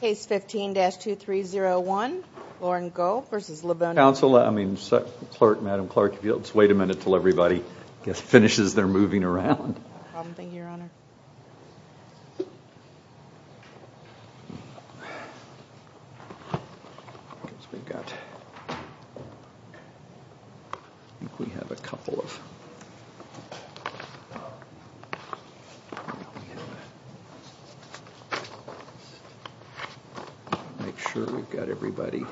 Case 15-2301, Lauren Gohl v. Livonia Public Schools. Madam Clerk, if you'll just wait a minute till everybody finishes their moving around. I'm thinking your honor. We've got we have a couple of make sure we've got everybody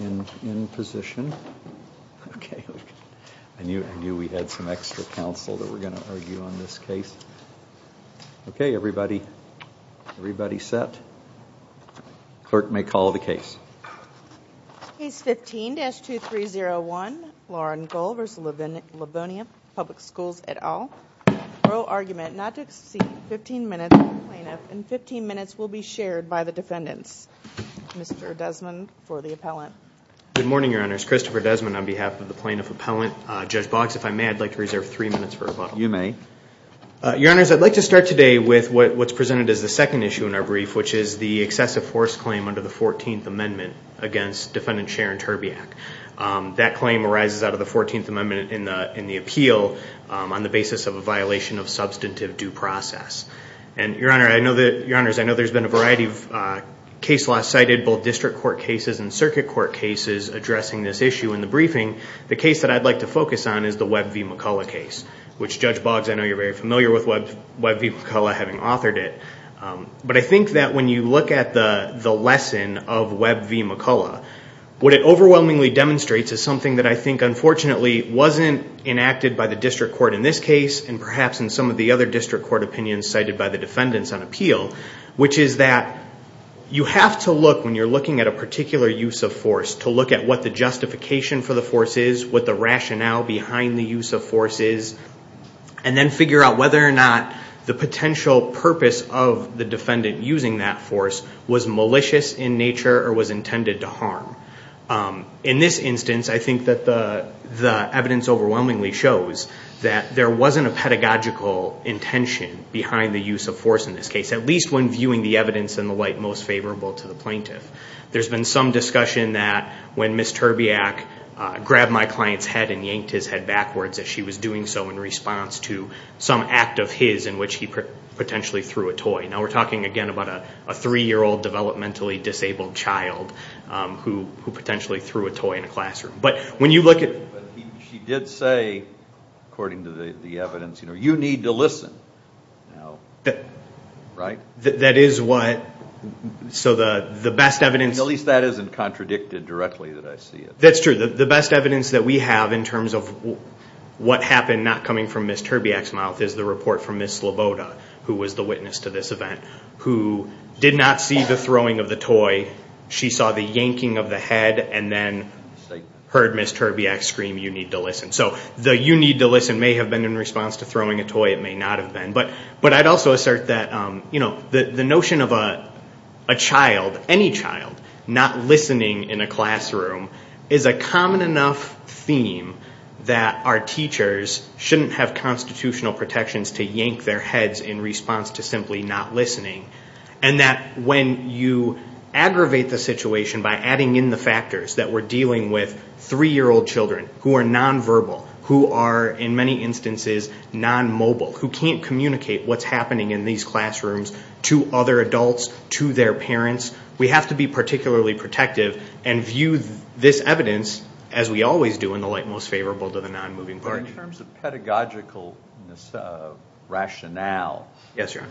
in in position okay I knew I knew we had some extra counsel that we're going to argue on this case okay everybody everybody set clerk may call the case. Case 15-2301, Lauren Gohl v. Livonia Public Schools et al. Pro argument not to exceed 15 minutes and 15 minutes will be shared by the defendants. Mr. Desmond for the appellant. Good morning your honors Christopher Desmond on behalf of the plaintiff appellant. Judge Box if I may I'd like to reserve three minutes for rebuttal. You may. Your honors I'd like to start today with what's presented as the second issue in our brief which is the excessive force claim under the 14th amendment against defendant Sharon Terbiak. That claim arises out of the 14th amendment in the in the appeal on the basis of a violation of substantive due process and your honor I know that your honors I know there's been a variety of case law cited both district court cases and circuit court cases addressing this issue in the briefing the case that I'd like to focus on is the Webb v. McCullough case which Judge Boggs I know you're very familiar with Webb v. McCullough having authored it but I think that when you look at the the lesson of Webb v. McCullough what it overwhelmingly demonstrates is something that I think unfortunately wasn't enacted by the district court in this case and perhaps in some of the other district court opinions cited by the defendants on appeal which is that you have to look when you're looking at a particular use of force to look at what the justification for the force is what the rationale behind the use of force is and then figure out whether or not the potential purpose of the defendant using that force was malicious in nature or was intended to harm in this instance I think that the the evidence overwhelmingly shows that there wasn't a pedagogical intention behind the use of force in this case at least when viewing the evidence in the light most favorable to the plaintiff there's been some discussion that when Miss Terbiak grabbed my client's head and yanked his head backwards as she was doing so in response to some act of his in which he potentially threw a toy now we're talking again about a three-year-old developmentally disabled child who potentially threw a toy in a classroom but when you look at she did say according to the evidence you know you need to listen that right that is what so the the best evidence at least that isn't contradicted directly that I see it that's true the best evidence that we have in terms of what happened not coming from Miss Terbiak's mouth is the report from Miss Sloboda who was the witness to this event who did not see the throwing of the toy she saw the yanking of the head and then heard Miss Terbiak scream you need to listen so the you need to listen may have been in response to throwing a toy it may not have been but but I'd also assert that the notion of a child any child not listening in a classroom is a common enough theme that our teachers shouldn't have constitutional protections to yank their heads in response to simply not listening and that when you aggravate the situation by adding in the factors that we're dealing with three-year-old children who are nonverbal who are in many instances non-mobile who can't communicate what's happening in these classrooms to other adults to their parents we have to be particularly protective and view this evidence as we always do in the light most favorable to the non-moving part in terms of pedagogical rationale yes your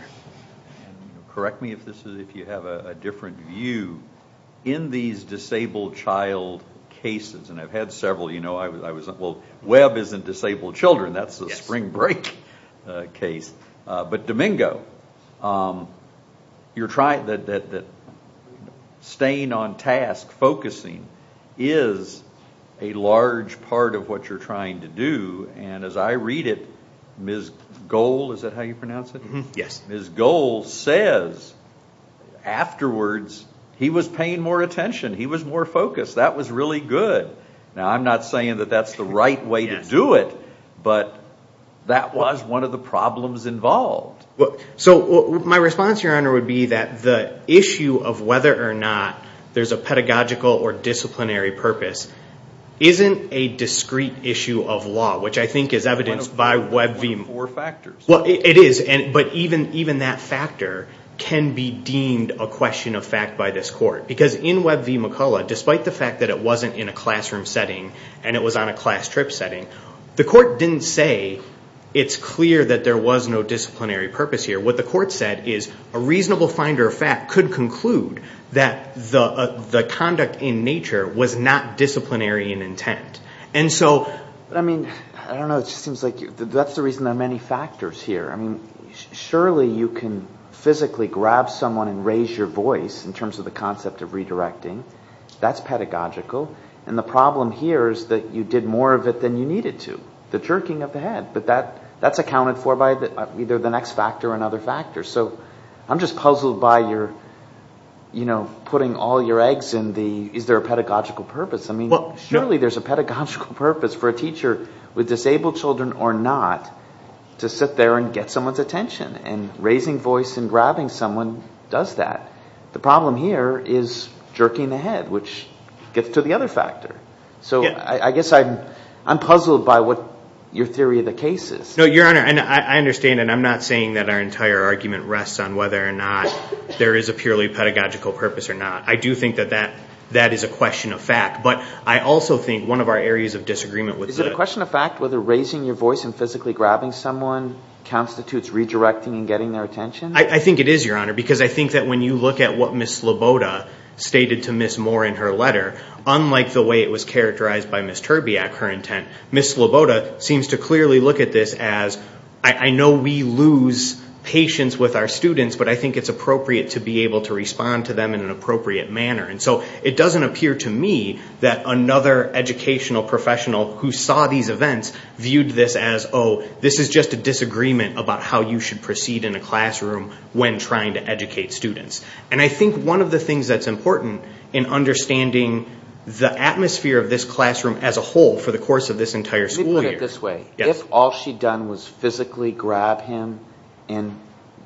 correct me if this is if you have a different view in these disabled child cases and I've had several you know I was well isn't disabled children that's the spring break case but Domingo you're trying that that staying on task focusing is a large part of what you're trying to do and as I read it Ms. Gold is that how you pronounce it yes Ms. Gold says afterwards he was paying more attention he was more focused that was really good now I'm not saying that that's the right way to do it but that was one of the problems involved look so my response your honor would be that the issue of whether or not there's a pedagogical or disciplinary purpose isn't a discrete issue of law which I think is evidenced by web beam or factors well it is and but even even that factor can be deemed a question of fact by this court because in web v. McCullough despite the fact that it wasn't in a classroom setting and it was on a class trip setting the court didn't say it's clear that there was no disciplinary purpose here what the court said is a reasonable finder of fact could conclude that the the conduct in nature was not disciplinary in intent and so I mean I don't know it seems like you that's the reason there are many factors here I mean surely you can physically grab someone and raise your voice in terms of the concept of redirecting that's pedagogical and the problem here is that you did more of it than you needed to the jerking of the head but that that's accounted for by the either the next factor and other factors so I'm just puzzled by your you know putting all your eggs in the is there a pedagogical purpose I mean surely there's a pedagogical purpose for a teacher with disabled children or not to sit there and get someone's attention and raising voice and grabbing someone does that the problem here is jerking the head which gets to the other factor so I guess I'm I'm puzzled by what your theory of the case is no your honor and I understand and I'm not saying that our entire argument rests on whether or not there is a purely pedagogical purpose or not I do think that that that is a question of fact but I also think one of our areas of disagreement with the question of fact whether raising your voice and physically grabbing someone constitutes redirecting and getting their attention I think it is your honor because I think that when you look at what miss Loboda stated to miss more in her letter unlike the way it was characterized by Miss Terbiak her intent miss Loboda seems to clearly look at this as I know we lose patience with our students but I think it's appropriate to be able to respond to them in an appropriate manner and so it doesn't appear to me that another educational professional who saw these events viewed this as oh this is just a disagreement about how you should proceed in a classroom when trying to educate students and I think one of the things that's important in understanding the atmosphere of this classroom as a whole for the course of this entire school year this way if all she'd done was physically grab him and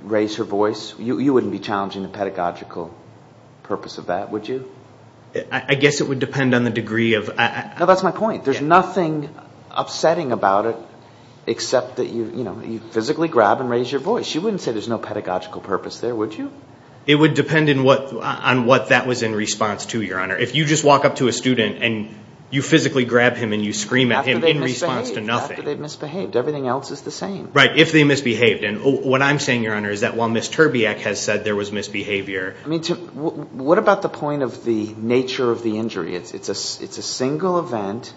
raise her voice you wouldn't be challenging the pedagogical purpose of that would you I guess it would depend on the degree of that's my point there's nothing upsetting about it except that you know you physically grab and raise your voice you wouldn't say there's no pedagogical purpose there would you it would depend on what that was in response to your honor if you just walk up to a student and you physically grab him and you scream at him in response to nothing misbehaved everything else is the same right if they misbehaved and what I'm saying your honor is that while Miss Terbiak has said there was misbehavior I mean to what about the point of the nature of the injury it's it's a it's a single event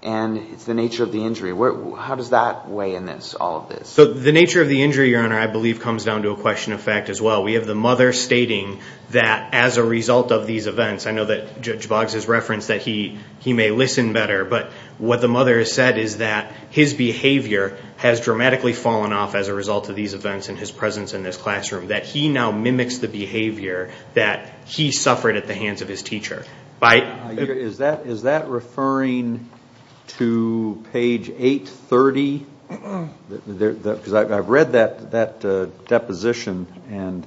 and it's the nature of the injury where how does that weigh in this all of this so the nature of the injury your honor I believe comes down to a question of fact as well we have the mother stating that as a result of these events I know that judge Boggs has referenced that he he may listen better but what the mother has said is that his behavior has dramatically fallen off as a result of these events in his presence in this classroom that he now mimics the behavior that he suffered at the hands of his teacher by is that is that referring to page 830 there because I've read that that deposition and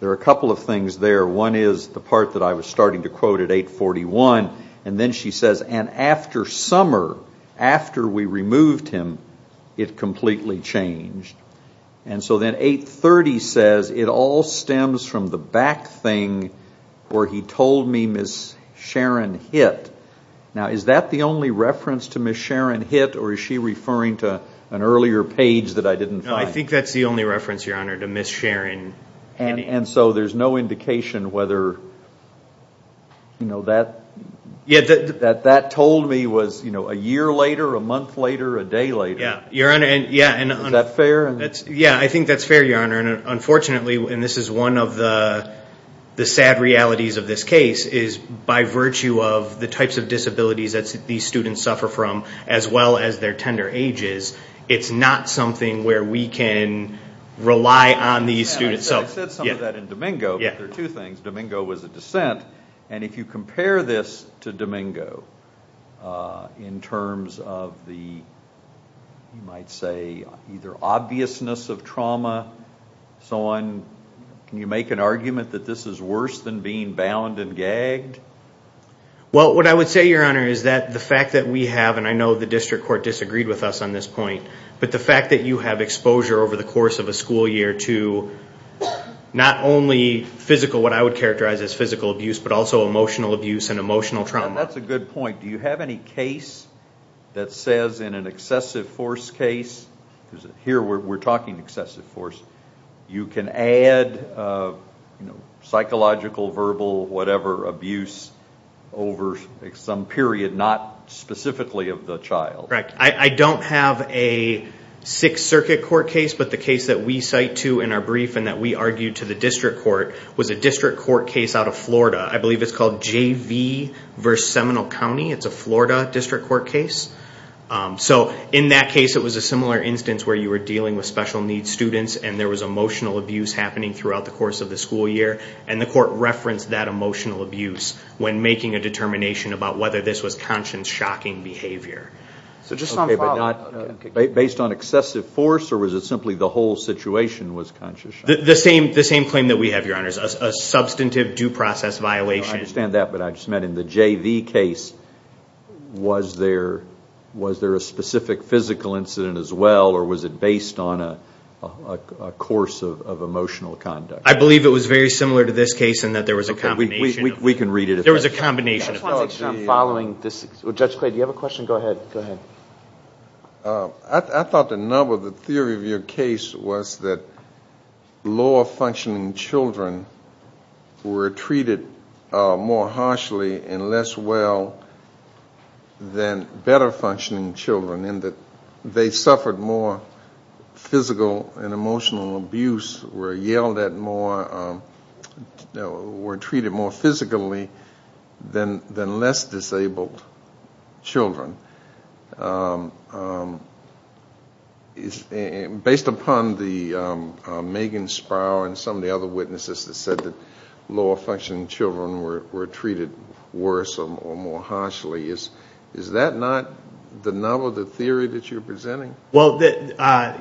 there are a couple of things there one is the part that I was starting to quote at 841 and then she says and after summer after we removed him it completely changed and so then 830 says it all stems from the back thing where he told me miss Sharon hit now is that the only reference to miss Sharon hit or is she referring to an earlier page that I didn't know I think that's the only reference your honor to miss Sharon and so there's no indication whether you know that yeah that that that told me was you know a year later a month later a day later your honor and yeah and that's fair and that's yeah I think that's fair your honor and unfortunately when this is one of the the sad realities of this case is by virtue of the types of disabilities that these students suffer from as well as their tender ages it's not something where we can rely on these students so yeah that in Domingo yeah there are two things Domingo was a dissent and if you might say either obviousness of trauma so on can you make an argument that this is worse than being bound and gagged well what I would say your honor is that the fact that we have and I know the district court disagreed with us on this point but the fact that you have exposure over the course of a school year to not only physical what I would characterize as physical abuse but also emotional abuse and emotional trauma that's a good point do you have any case that says in an excessive force case here we're talking excessive force you can add psychological verbal whatever abuse over some period not specifically of the child correct I don't have a Sixth Circuit court case but the case that we cite to in our brief and that we argued to the district court was a district court case out of Florida I believe it's called JV verse Seminole County it's a Florida district court case so in that case it was a similar instance where you were dealing with special needs students and there was emotional abuse happening throughout the course of the school year and the court referenced that emotional abuse when making a determination about whether this was conscious shocking behavior so just not based on excessive force or was it simply the whole situation was conscious the same the same claim that we have your honors a substantive due process violation I understand that but I just met in the JV case was there was there a specific physical incident as well or was it based on a course of emotional conduct I believe it was very similar to this case and that there was a company we can read it if there was a combination of following this judge played you have a question go ahead go ahead I thought the number the theory of your case was that lower functioning children were treated more harshly and less well than better functioning children in that they suffered more physical and emotional abuse were yelled at more were treated more physically than than less disabled children is based upon the Megan Sparrow and some of the other witnesses that said that low functioning children were treated worse or more harshly is is that not the novel the theory that you're presenting well that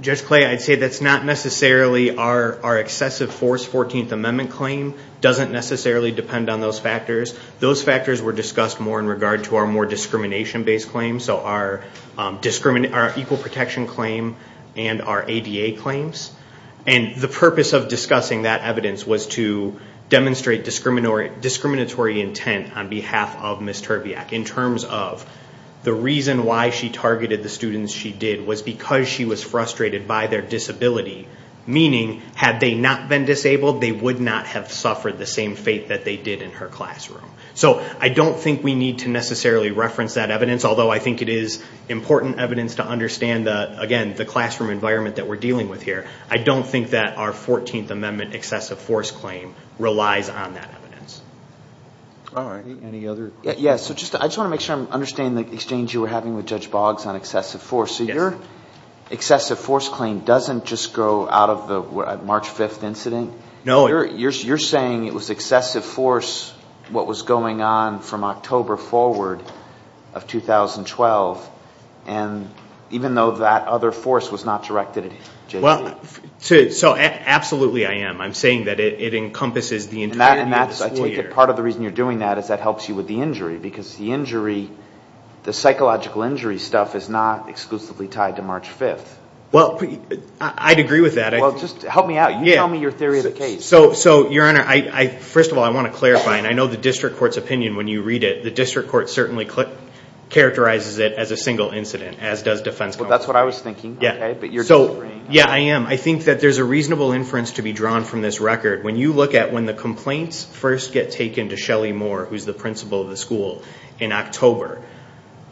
just clay I'd say that's not necessarily our excessive force 14th Amendment claim doesn't necessarily depend on those factors those factors were discussed more in regard to our more discrimination based claims so our discriminate our equal protection claim and our ADA claims and the purpose of discussing that evidence was to demonstrate discriminatory intent on behalf of Miss Terbiak in terms of the reason why she targeted the students she did was because she was frustrated by their disability meaning had they not been disabled they would not have suffered the same fate that they did in her classroom so I don't think we need to necessarily reference that evidence although I think it is important evidence to understand that again the classroom environment that we're dealing with here I don't think that our 14th Amendment excessive force claim relies on that evidence yes so just I just want to make sure I'm understand the exchange you were having with judge Boggs on excessive force so your excessive force claim doesn't just go out of the March 5th incident no you're saying it was excessive force what was going on from October forward of 2012 and even though that other force was not directed well so absolutely I am I'm saying that it encompasses the in that and that's I take it part of the reason you're doing that is that helps you with the injury because the injury the psychological injury stuff is not exclusively tied to March 5th well I'd agree with that I just help me out yeah me your theory of the case so so your honor I first of all I want to clarify and I know the district court certainly click characterizes it as a single incident as does defense but that's what I was thinking yeah okay but you're so yeah I am I think that there's a reasonable inference to be drawn from this record when you look at when the complaints first get taken to Shelly Moore who's the principal of the school in October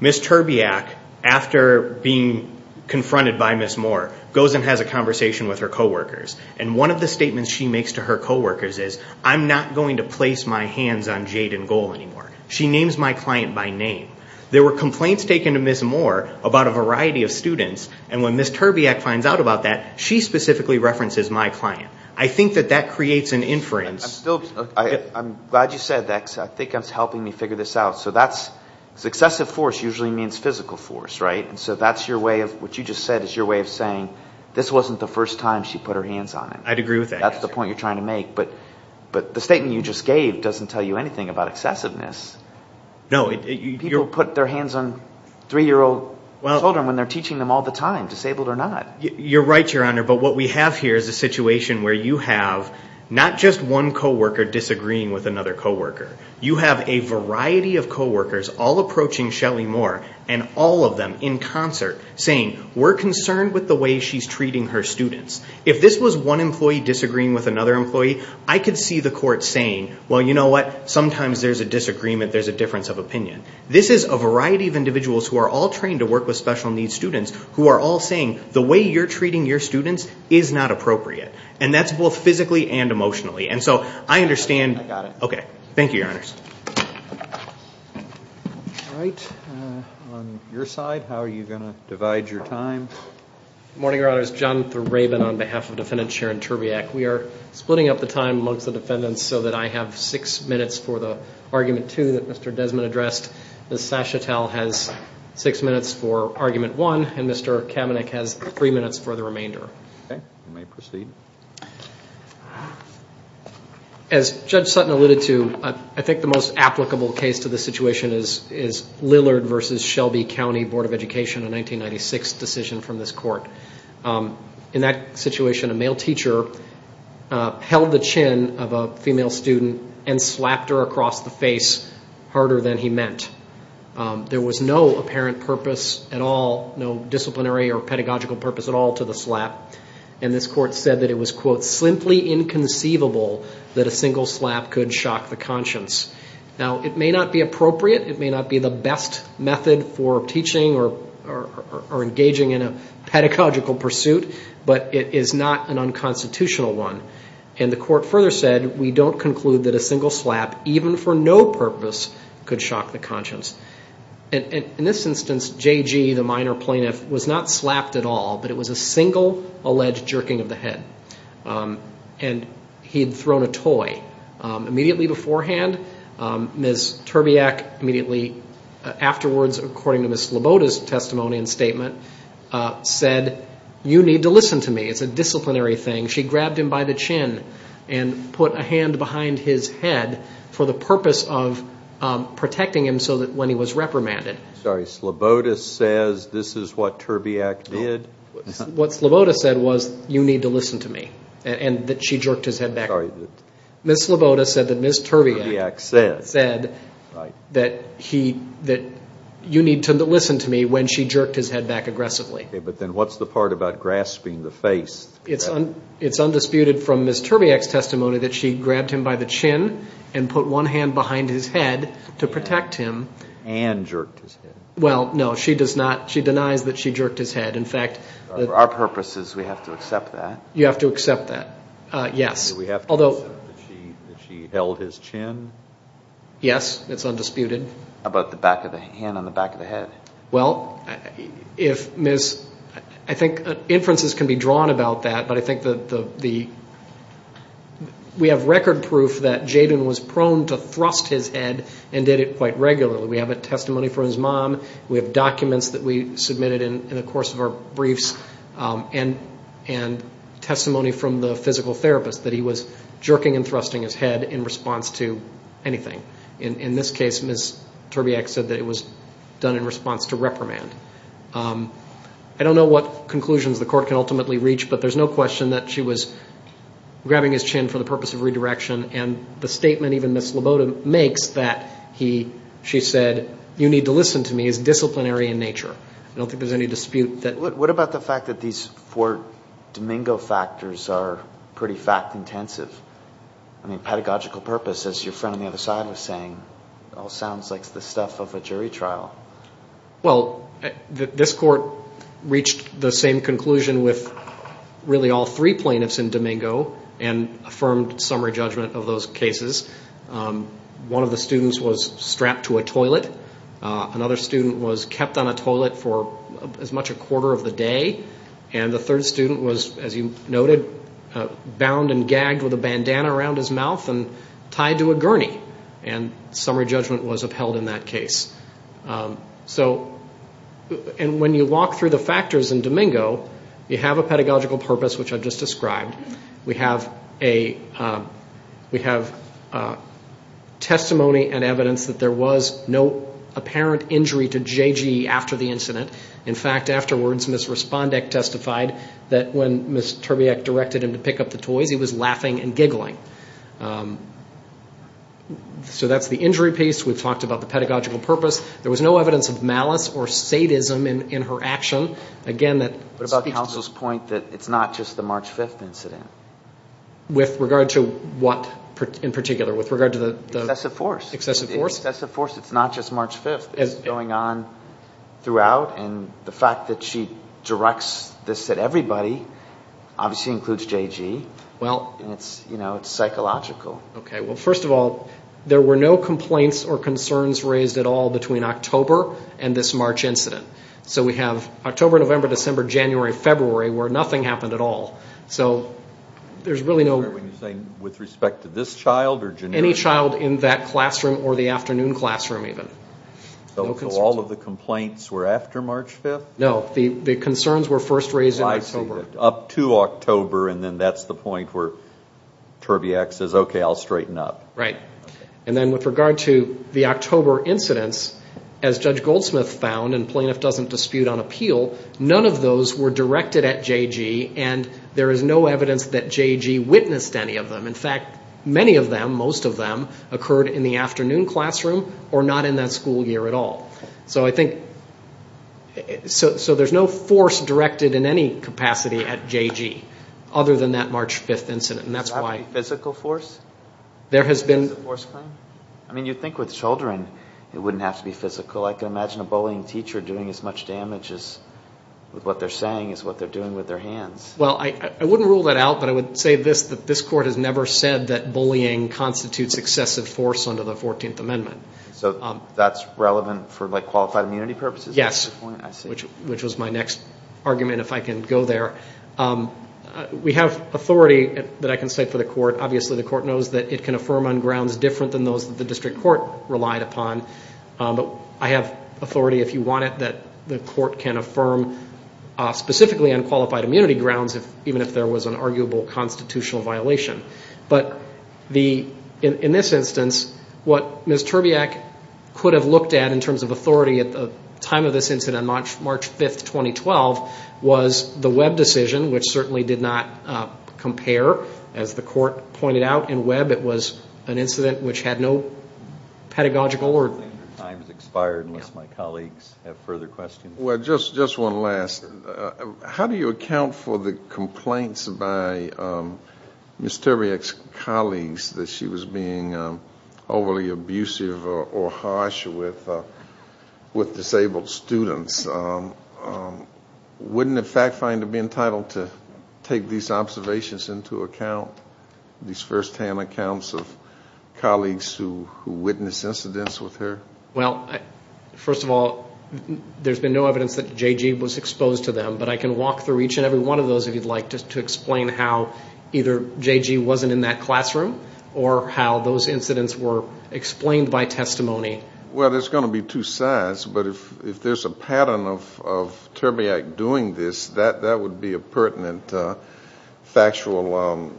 miss Terbiak after being confronted by miss Moore goes and has a conversation with her co-workers and one of the statements she makes to her co-workers is I'm not going to place my hands on client by name there were complaints taken to miss Moore about a variety of students and when miss Terbiak finds out about that she specifically references my client I think that that creates an inference I'm glad you said that I think I'm helping me figure this out so that's successive force usually means physical force right and so that's your way of what you just said is your way of saying this wasn't the first time she put her hands on it I'd agree with that that's the point you're trying to make but but the statement you just gave doesn't tell you anything about excessiveness no you put their hands on three-year-old well children when they're teaching them all the time disabled or not you're right your honor but what we have here is a situation where you have not just one co-worker disagreeing with another co-worker you have a variety of co-workers all approaching Shelly Moore and all of them in concert saying we're concerned with the way she's treating her students if this was one employee disagreeing with another employee I could see the court saying well you know what sometimes there's a disagreement there's a difference of opinion this is a variety of individuals who are all trained to work with special needs students who are all saying the way you're treating your students is not appropriate and that's both physically and emotionally and so I understand okay thank you your honor's right on your side how are you gonna divide your time morning your honor's John the Raven on behalf of defendant Sharon Terbiak we have six minutes for the argument to that mr. Desmond addressed the satchel has six minutes for argument one and mr. Kamenik has three minutes for the remainder as judge Sutton alluded to I think the most applicable case to the situation is is Lillard versus Shelby County Board of Education in 1996 decision from this court in that situation a male teacher held the chin of a female student and slapped her across the face harder than he meant there was no apparent purpose at all no disciplinary or pedagogical purpose at all to the slap and this court said that it was quote simply inconceivable that a single slap could shock the conscience now it may not be appropriate it may not be the best method for teaching or engaging in a pedagogical pursuit but it is not an unconstitutional one and the court further said we don't conclude that a single slap even for no purpose could shock the conscience and in this instance JG the minor plaintiff was not slapped at all but it was a single alleged jerking of the head and he had thrown a toy immediately beforehand miss Terbiak immediately afterwards according to miss Laboda's testimony and disciplinary thing she grabbed him by the chin and put a hand behind his head for the purpose of protecting him so that when he was reprimanded sorry Sloboda says this is what Terbiak did what's Laboda said was you need to listen to me and that she jerked his head back Miss Laboda said that miss Terbiak said said that he that you need to listen to me when she jerked his head back aggressively but then what's the part about grasping the face it's on it's undisputed from miss Terbiak's testimony that she grabbed him by the chin and put one hand behind his head to protect him and jerked his head well no she does not she denies that she jerked his head in fact our purpose is we have to accept that you have to accept that yes we have although she held his chin yes it's undisputed about the back of the hand on the back of the head well if miss I think inferences can be drawn about that but I think that the we have record proof that Jaden was prone to thrust his head and did it quite regularly we have a testimony from his mom we have documents that we submitted in the course of our briefs and and testimony from the physical therapist that he was jerking and thrusting his head in response to anything in this case miss Terbiak said that it was done in response to reprimand I don't know what conclusions the court can ultimately reach but there's no question that she was grabbing his chin for the purpose of redirection and the statement even miss Laboda makes that he she said you need to listen to me is disciplinary in nature I don't think there's any dispute that what about the fact that these four Domingo factors are pretty fact-intensive I mean purpose is your friend on the other side of saying all sounds like the stuff of a jury trial well this court reached the same conclusion with really all three plaintiffs in Domingo and affirmed summary judgment of those cases one of the students was strapped to a toilet another student was kept on a toilet for as much a quarter of the day and the third student was as you noted bound and tied to a gurney and summary judgment was upheld in that case so and when you walk through the factors in Domingo you have a pedagogical purpose which I've just described we have a we have testimony and evidence that there was no apparent injury to JG after the incident in fact afterwards miss Respondek testified that when miss Terbiak directed him to pick up the toys he was so that's the injury piece we've talked about the pedagogical purpose there was no evidence of malice or sadism in her action again that what about counsel's point that it's not just the March 5th incident with regard to what in particular with regard to the excessive force excessive force excessive force it's not just March 5th is going on throughout and the fact that she directs this at everybody obviously includes JG well it's you know it's psychological well first of all there were no complaints or concerns raised at all between October and this March incident so we have October November December January February where nothing happened at all so there's really no with respect to this child or any child in that classroom or the afternoon classroom even so all of the complaints were after March 5th no the the concerns were first raised up to October and then that's the point where Terbiak says okay I'll straighten up right and then with regard to the October incidents as Judge Goldsmith found and plaintiff doesn't dispute on appeal none of those were directed at JG and there is no evidence that JG witnessed any of them in fact many of them most of them occurred in the afternoon classroom or not in that year at all so I think so there's no force directed in any capacity at JG other than that March 5th incident and that's why physical force there has been I mean you think with children it wouldn't have to be physical I can imagine a bullying teacher doing as much damage as with what they're saying is what they're doing with their hands well I wouldn't rule that out but I would say this that this court has never said that bullying constitutes excessive force under the 14th amendment so that's relevant for like qualified immunity purposes yes which which was my next argument if I can go there we have authority that I can say for the court obviously the court knows that it can affirm on grounds different than those that the district court relied upon but I have authority if you want it that the court can affirm specifically on qualified immunity grounds if even if there was an arguable constitutional violation but the in this instance what Ms. Terbiak could have looked at in terms of authority at the time of this incident March 5th 2012 was the web decision which certainly did not compare as the court pointed out in web it was an incident which had no pedagogical or times expired unless my colleagues have further questions well just just one last how do you account for the mysterious colleagues that she was being overly abusive or harsh with with disabled students wouldn't in fact find to be entitled to take these observations into account these first-hand accounts of colleagues who witness incidents with her well first of all there's been no evidence that JG was exposed to them but I can walk through each and every one of those if you'd like to explain how either JG wasn't in that classroom or how those incidents were explained by testimony well there's going to be two sides but if if there's a pattern of Terbiak doing this that that would be a pertinent factual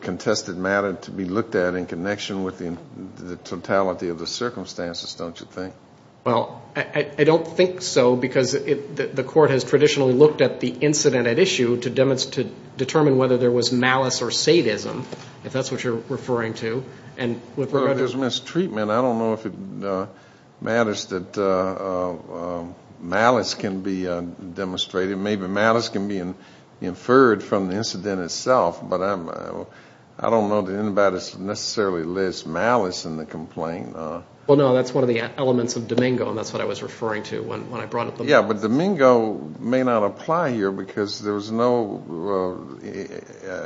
contested matter to be looked at in connection with the totality of the circumstances don't you think well I don't think so because if the court has traditionally looked at the incident at issue to demonstrate determine whether there was malice or sadism if that's what you're referring to and there's mistreatment I don't know if it matters that malice can be demonstrated maybe malice can be inferred from the incident itself but I'm I don't know that anybody's necessarily list malice in the complaint well no that's one of the elements of Domingo and that's what I was referring to when I brought up the yeah but Domingo may not apply here because there was no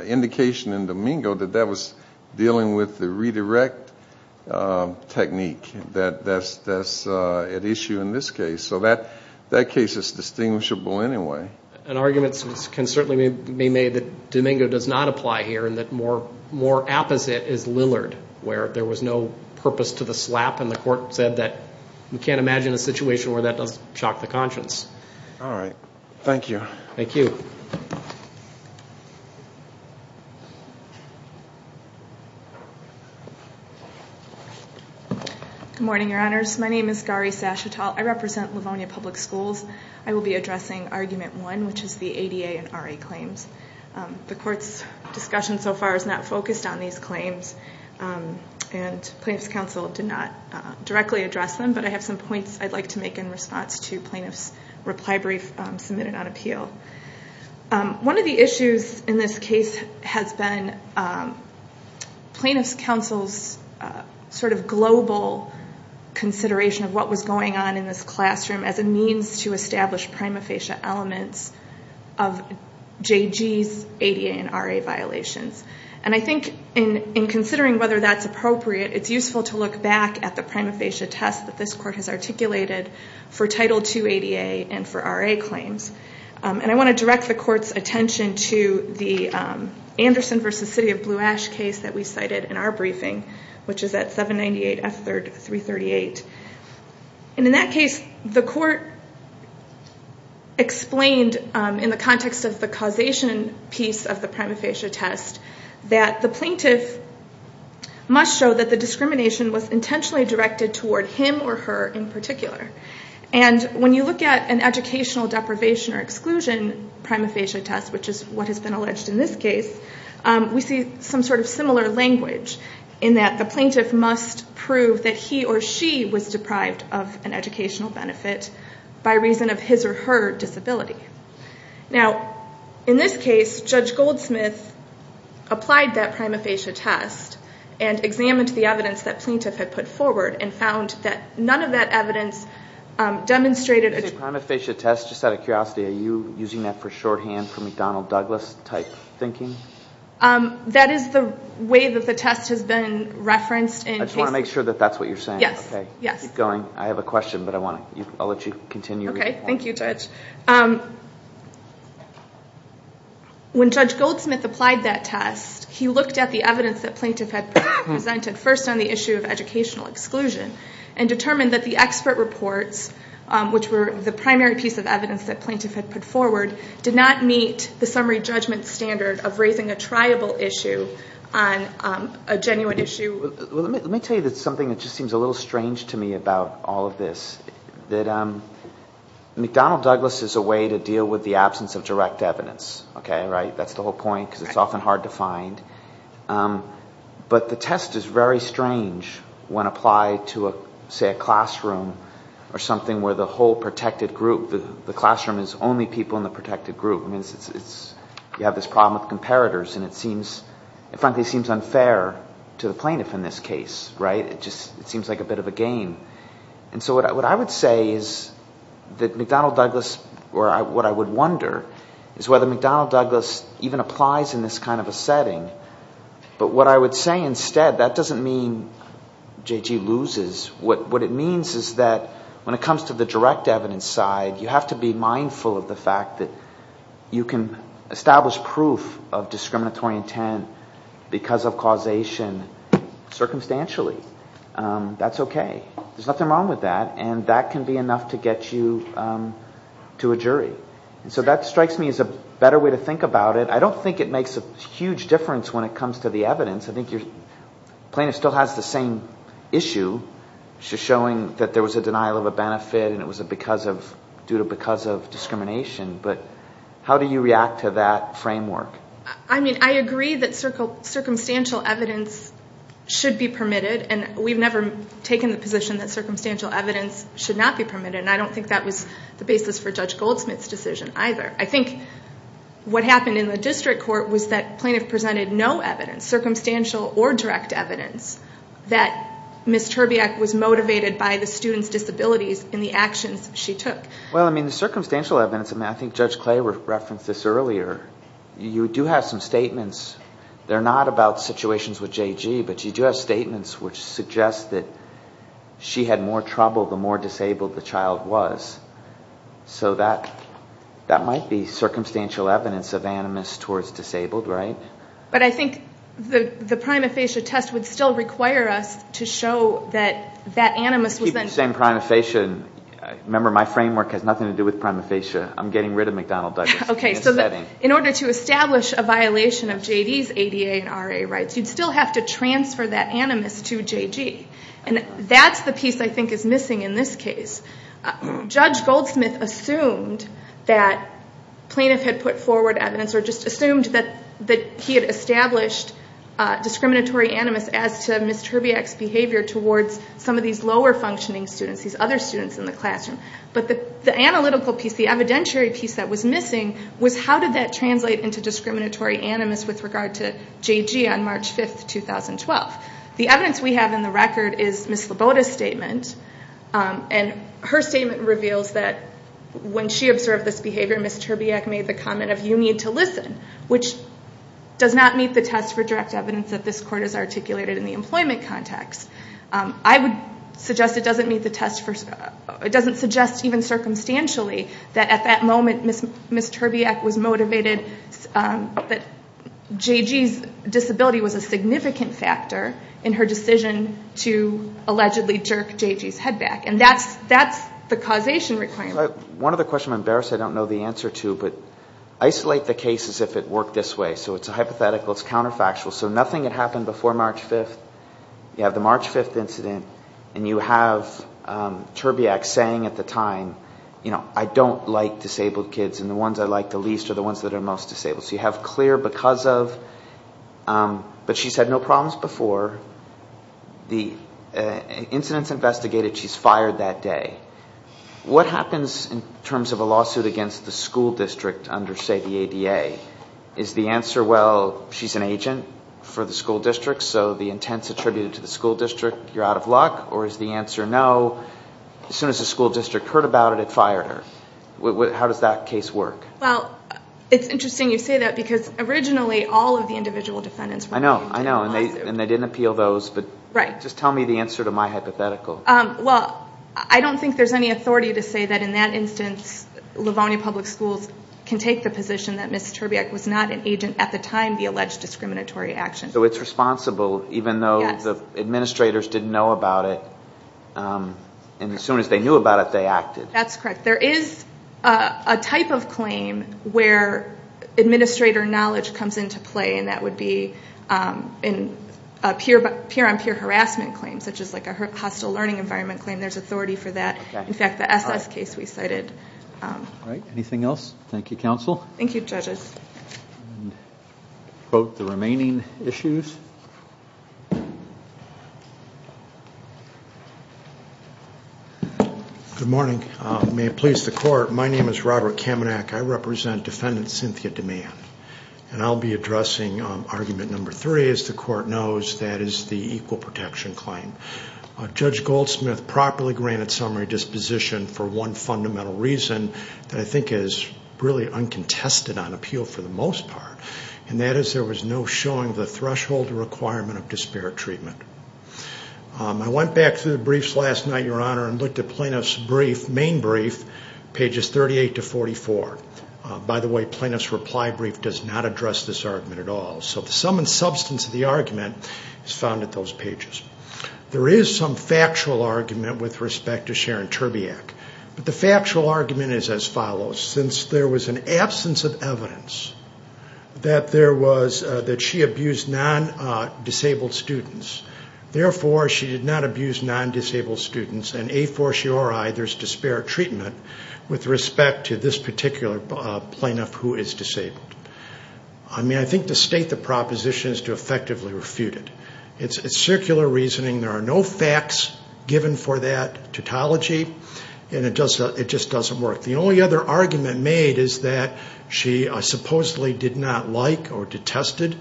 indication in Domingo that that was dealing with the redirect technique that that's that's at issue in this case so that that case is distinguishable anyway an argument can certainly be made that Domingo does not apply here and that more more apposite is Lillard where there was no purpose to the slap and the court said that we can't imagine a situation where that doesn't shock the conscience all right thank you thank you good morning your honors my name is Gary Sashita I represent Livonia public schools I will be addressing argument one which is the ADA and RA claims the courts discussion so far is not focused on these claims and plaintiffs counsel did not directly address them but I have some points I'd like to make in response to plaintiffs reply brief submitted on appeal one of the issues in this case has been plaintiffs counsel's sort of global consideration of what was going on in this classroom as a means to establish prima facie elements of JG's ADA and RA violations and I think in in considering whether that's appropriate it's useful to look back at the prima facie test that this court has articulated for title 288 and for RA claims and I want to direct the court's attention to the Anderson versus City of Blue Ash case that we cited in our briefing which is at 798 F 3rd 338 and in that case the court explained in the context of the causation piece of the prima facie test that the plaintiff must show that the discrimination was intentionally directed toward him or her in particular and when you look at an educational deprivation or exclusion prima facie test which is what has been alleged in this case we see some sort of similar language in that the plaintiff must prove that he or she was deprived of an educational benefit by reason of his or her disability now in this case Judge Goldsmith applied that prima facie test and examined the evidence that plaintiff had put forward and found that none of that evidence demonstrated a prima facie test just out of curiosity are you using that for shorthand for McDonnell Douglas type thinking that is the way that the test has been referenced and I just want to make sure that that's what you're saying yes okay yes going I have a question but I want to let you continue okay thank you judge when judge Goldsmith applied that test he looked at the evidence that plaintiff had presented first on the issue of educational exclusion and determined that the expert reports which were the primary piece of evidence that plaintiff had put forward did not meet the summary judgment standard of raising a triable issue on a genuine issue let me tell you that's something that just seems a little odd all of this that I'm McDonnell Douglas is a way to deal with the absence of direct evidence okay right that's the whole point because it's often hard to find but the test is very strange when applied to a say a classroom or something where the whole protected group the classroom is only people in the protected group means it's you have this problem with comparators and it seems it frankly seems unfair to the plaintiff in this case right it just it seems like a bit of a game and so what I would say is that McDonnell Douglas or I what I would wonder is whether McDonnell Douglas even applies in this kind of a setting but what I would say instead that doesn't mean JG loses what what it means is that when it comes to the direct evidence side you have to be mindful of the fact that you can establish proof of discriminatory intent because of causation circumstantially that's okay there's nothing wrong with that and that can be enough to get you to a jury and so that strikes me as a better way to think about it I don't think it makes a huge difference when it comes to the evidence I think your plaintiff still has the same issue just showing that there was a denial of a benefit and it was a because of due to because of discrimination but how do you react to that framework I mean I agree that circle circumstantial evidence should be permitted and we've never taken the position that circumstantial evidence should not be permitted and I don't think that was the basis for Judge Goldsmith's decision either I think what happened in the district court was that plaintiff presented no evidence circumstantial or direct evidence that Miss Terbiak was motivated by the students disabilities in the actions she took well I mean the circumstantial evidence I mean I think judge clay were referenced this earlier you do have some statements they're not about situations with JG but you do have statements which suggest that she had more trouble the more disabled the child was so that that might be circumstantial evidence of animus towards disabled right but I think the the prima facie test would still require us to show that that animus was then same prima facie remember my framework has nothing to do with prima facie I'm getting rid of McDonald okay so that in order to establish a violation of JD's ADA and RA rights you'd still have to transfer that animus to JG and that's the piece I think is missing in this case judge Goldsmith assumed that plaintiff had put forward evidence or just assumed that that he had established discriminatory animus as to Miss Terbiak's behavior towards some of these lower functioning students these other students in the evidentiary piece that was missing was how did that translate into discriminatory animus with regard to JG on March 5th 2012 the evidence we have in the record is Miss Laboda's statement and her statement reveals that when she observed this behavior Miss Terbiak made the comment of you need to listen which does not meet the test for direct evidence that this court is articulated in the employment context I would suggest it doesn't meet the test for it doesn't suggest even circumstantially that at that moment miss miss Terbiak was motivated but JG's disability was a significant factor in her decision to allegedly jerk JG's head back and that's that's the causation requirement one of the question I'm embarrassed I don't know the answer to but isolate the case as if it worked this way so it's a hypothetical it's counterfactual so nothing had happened before March 5th you have the March 5th incident and you have Terbiak saying at the time you know I don't like disabled kids and the ones I like the least are the ones that are most disabled so you have clear because of but she said no problems before the incidents investigated she's fired that day what happens in terms of a lawsuit against the school district under say the ADA is the answer well she's an agent for the school district so the intents attributed to the school district you're out of luck or is the answer no as soon as the school district heard about it it fired her how does that case work well it's interesting you say that because originally all of the individual defendants I know I know and they and they didn't appeal those but right just tell me the answer to my hypothetical well I don't think there's any authority to say that in that instance Livonia Public Schools can take the position that miss Terbiak was not an agent at the time the alleged discriminatory action so it's responsible even though the administrators didn't know about it and as soon as they knew about it they acted that's correct there is a type of claim where administrator knowledge comes into play and that would be in a peer peer-on-peer harassment claim such as like a hostile learning environment claim there's authority for that in fact the SS case we cited right anything else Thank You counsel Thank You judges both the remaining issues good morning may it please the court my name is Robert Kamenak I represent defendant Cynthia demand and I'll be addressing argument number three as the court knows that is the equal protection claim judge Goldsmith properly granted summary disposition for one fundamental reason I think is really uncontested on appeal for the most part and that is there was no showing the threshold requirement of disparate treatment I went back to the briefs last night your honor and looked at plaintiffs brief main brief pages 38 to 44 by the way plaintiffs reply brief does not address this argument at all so the sum and substance of the argument is found at those pages there is some argument is as follows since there was an absence of evidence that there was that she abused non-disabled students therefore she did not abuse non-disabled students and a for sure I there's disparate treatment with respect to this particular plaintiff who is disabled I mean I think the state the proposition is to effectively refute it it's a circular reasoning there are no facts given for that it just doesn't work the only other argument made is that she supposedly did not like or detested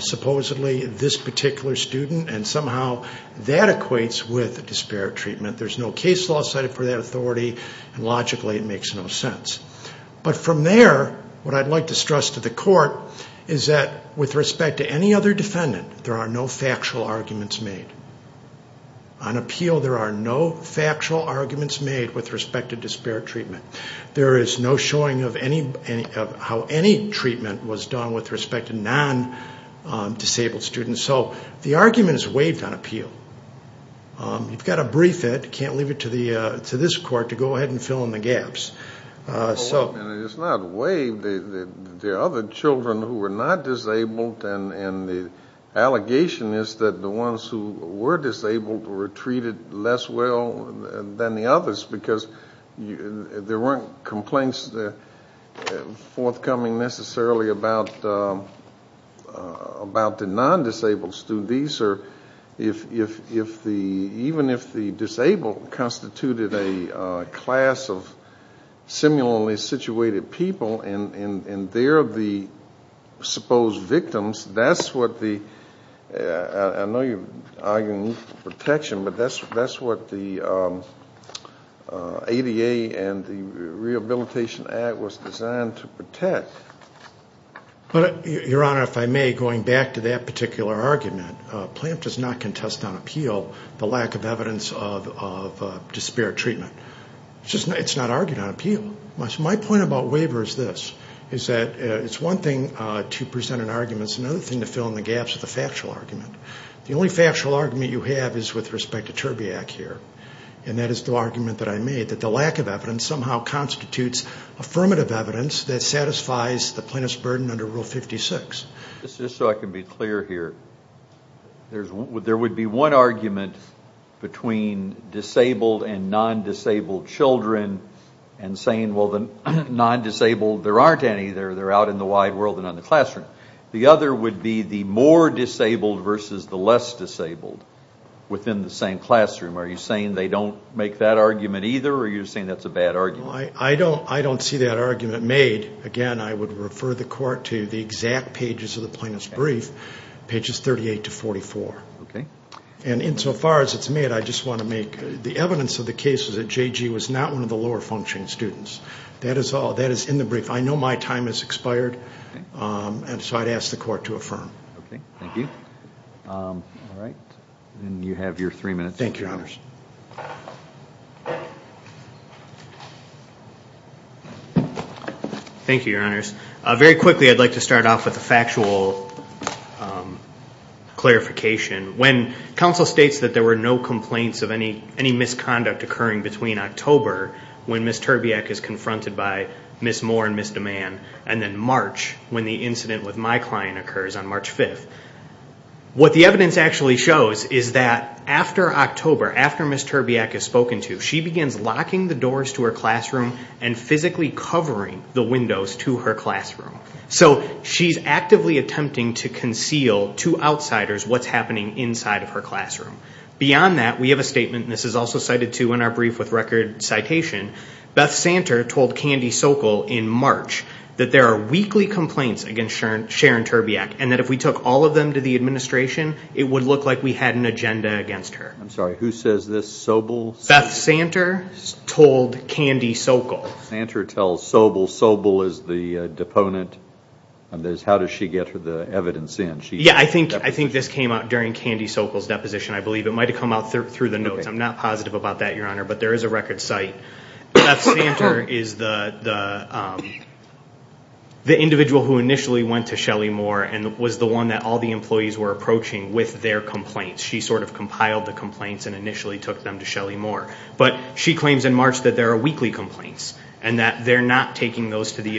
supposedly this particular student and somehow that equates with the disparate treatment there's no case law cited for the authority logically it makes no sense but from there what I'd like to stress to the court is that with respect to any other defendant there are no arguments made on appeal there are no factual arguments made with respect to disparate treatment there is no showing of any of how any treatment was done with respect to non-disabled students so the argument is waived on appeal you've got a brief it can't leave it to the to this court to go ahead and fill in the gaps so it's not waived the other children who were not disabled and and the allegation is that the ones who were disabled were treated less well than the others because you there weren't complaints the forthcoming necessarily about about the non-disabled students or if if if the even if the disabled constituted a class of similarly situated people and and and they're the supposed victims that's what the protection but that's that's what the ADA and the Rehabilitation Act was designed to protect but your honor if I may going back to that particular argument plant does not contest on appeal the lack of evidence of disparate treatment just it's not argued on appeal my point about waivers this is that it's one thing to present an arguments another thing to fill in the gaps of the factual argument the only factual argument you have is with respect to terbiac here and that is the argument that I made that the lack of evidence somehow constitutes affirmative evidence that satisfies the plaintiff's burden under rule 56 this is so I can be clear here there's what there would be one argument between disabled and disabled children and saying well the non-disabled there aren't any there they're out in the wide world and on the classroom the other would be the more disabled versus the less disabled within the same classroom are you saying they don't make that argument either or you're saying that's a bad argument I don't I don't see that argument made again I would refer the court to the exact pages of the plaintiff's brief pages 38 to 44 okay and insofar as it's I just want to make the evidence of the case is that JG was not one of the lower functioning students that is all that is in the brief I know my time has expired and so I'd ask the court to affirm okay thank you all right and you have your three minutes thank your honors thank you your honors very quickly I'd like to start off with a factual clarification when counsel states that there were no complaints of any any misconduct occurring between October when Miss Terbiak is confronted by Miss Moore and Miss Duman and then March when the incident with my client occurs on March 5th what the evidence actually shows is that after October after Miss Terbiak has spoken to she begins locking the doors to her classroom and physically covering the windows to her classroom so she's actively attempting to conceive to outsiders what's happening inside of her classroom beyond that we have a statement this is also cited to in our brief with record citation Beth Santer told Candy Sokol in March that there are weekly complaints against Sharon Terbiak and that if we took all of them to the administration it would look like we had an agenda against her I'm sorry who says this Sobel Beth Santer told Candy Sokol answer tells Sobel Sobel is the deponent and there's how does she get her the evidence in she yeah I think I think this came out during Candy Sokol's deposition I believe it might have come out through the notes I'm not positive about that your honor but there is a record site that's the answer is the the individual who initially went to Shelly Moore and was the one that all the employees were approaching with their complaints she sort of compiled the complaints and initially took them to Shelly Moore but she claims in March that there are weekly complaints and that they're not taking those to the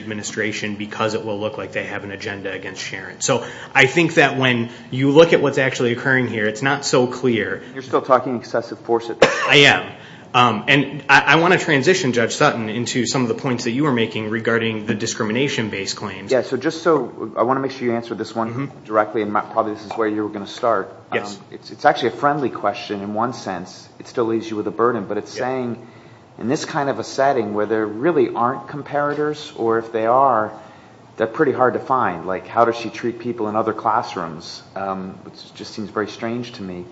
so I think that when you look at what's actually occurring here it's not so clear you're still talking excessive force it I am and I want to transition judge Sutton into some of the points that you were making regarding the discrimination based claims yeah so just so I want to make sure you answer this one directly and probably this is where you were gonna start yes it's actually a friendly question in one sense it still leaves you with a burden but it's saying in this kind of a setting where there really aren't comparators or if they are they're pretty hard to find like how does she treat people in other classrooms which just seems very strange to me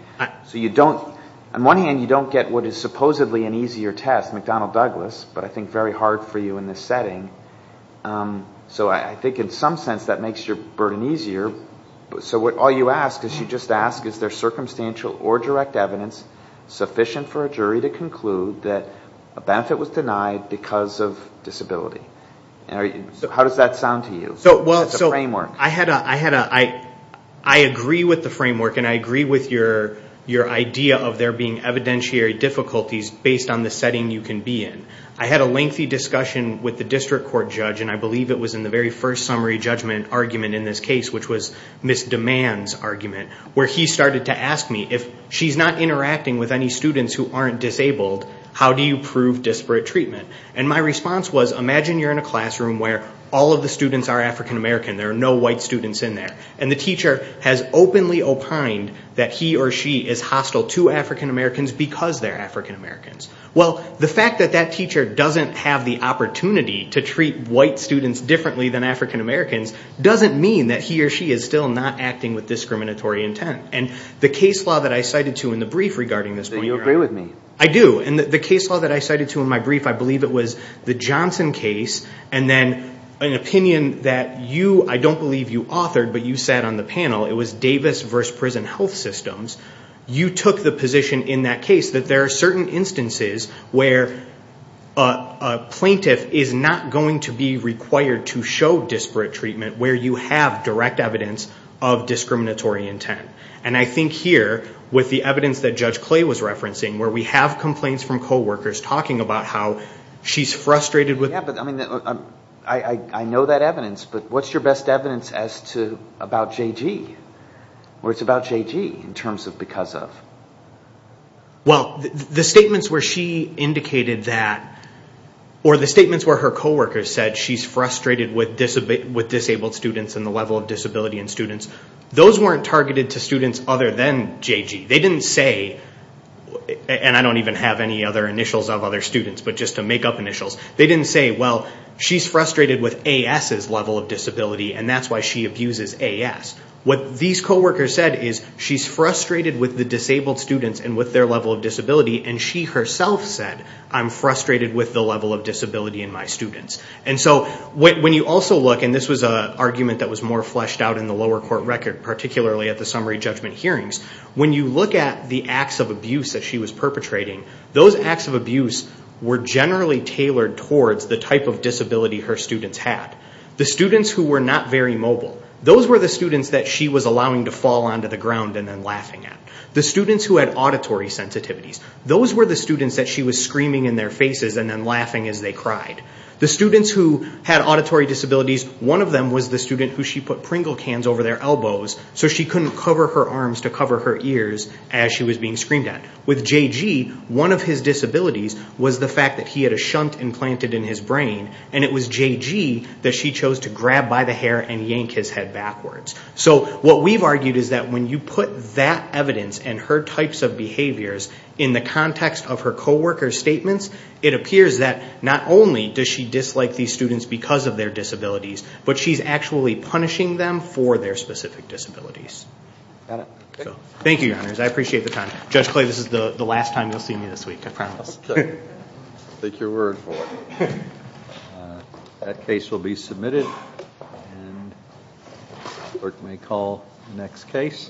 so you don't on one hand you don't get what is supposedly an easier test McDonnell Douglas but I think very hard for you in this setting so I think in some sense that makes your burden easier but so what all you ask is you just ask is there circumstantial or direct evidence sufficient for a jury to conclude that a benefit was denied because of disability how does that sound to you so well it's a framework I had a I had a I I agree with the framework and I agree with your your idea of there being evidentiary difficulties based on the setting you can be in I had a lengthy discussion with the district court judge and I believe it was in the very first summary judgment argument in this case which was miss demands argument where he started to ask me if she's not interacting with any students who aren't disabled how do you prove disparate treatment and my response was imagine you're in a classroom where all of the students are african-american there are no white students in there and the teacher has openly opined that he or she is hostile to african-americans because they're african-americans well the fact that that teacher doesn't have the opportunity to treat white students differently than african-americans doesn't mean that he or she is still not acting with discriminatory intent and the case law that I cited to in the brief regarding this when you agree with me I do and the case law that I cited to in my brief I believe it was the Johnson case and then an opinion that you I don't believe you authored but you sat on the panel it was Davis versus prison health systems you took the position in that case that there are certain instances where a plaintiff is not going to be required to show disparate treatment where you have direct evidence of discriminatory intent and I think here with the evidence that judge clay was referencing where we have complaints from co-workers talking about how she's frustrated with I mean I know that evidence but what's your best evidence as to about JG or it's about JG in terms of because of well the statements where she indicated that or the statements where her co-workers said she's frustrated with this a bit with disabled students and the level of disability in students those weren't targeted to students other than JG they didn't say and I don't even have any other initials of other students but just to make up initials they didn't say well she's frustrated with AS's level of disability and that's why she abuses AS what these co-workers said is she's frustrated with the disabled students and with their level of disability and she herself said I'm frustrated with the level of disability in my students and so when you also look and this was a argument that was more fleshed out in the lower court record particularly at the summary judgment hearings when you look at the acts of abuse that she was perpetrating those acts of abuse were generally tailored towards the type of disability her students had the students who were not very mobile those were the students that she was allowing to fall onto the ground and then laughing at the students who had auditory sensitivities those were the students that she was screaming in their faces and then had auditory disabilities one of them was the student who she put Pringle cans over their elbows so she couldn't cover her arms to cover her ears as she was being screamed at with JG one of his disabilities was the fact that he had a shunt implanted in his brain and it was JG that she chose to grab by the hair and yank his head backwards so what we've argued is that when you put that evidence and her types of behaviors in the context of her co-workers statements it appears that not only does she dislike these students because of their disabilities but she's actually punishing them for their specific disabilities. Thank you your honors I appreciate the time. Judge Clay this is the the last time you'll see me this week I promise. Take your word for it. That case will be submitted and the clerk may call the next case.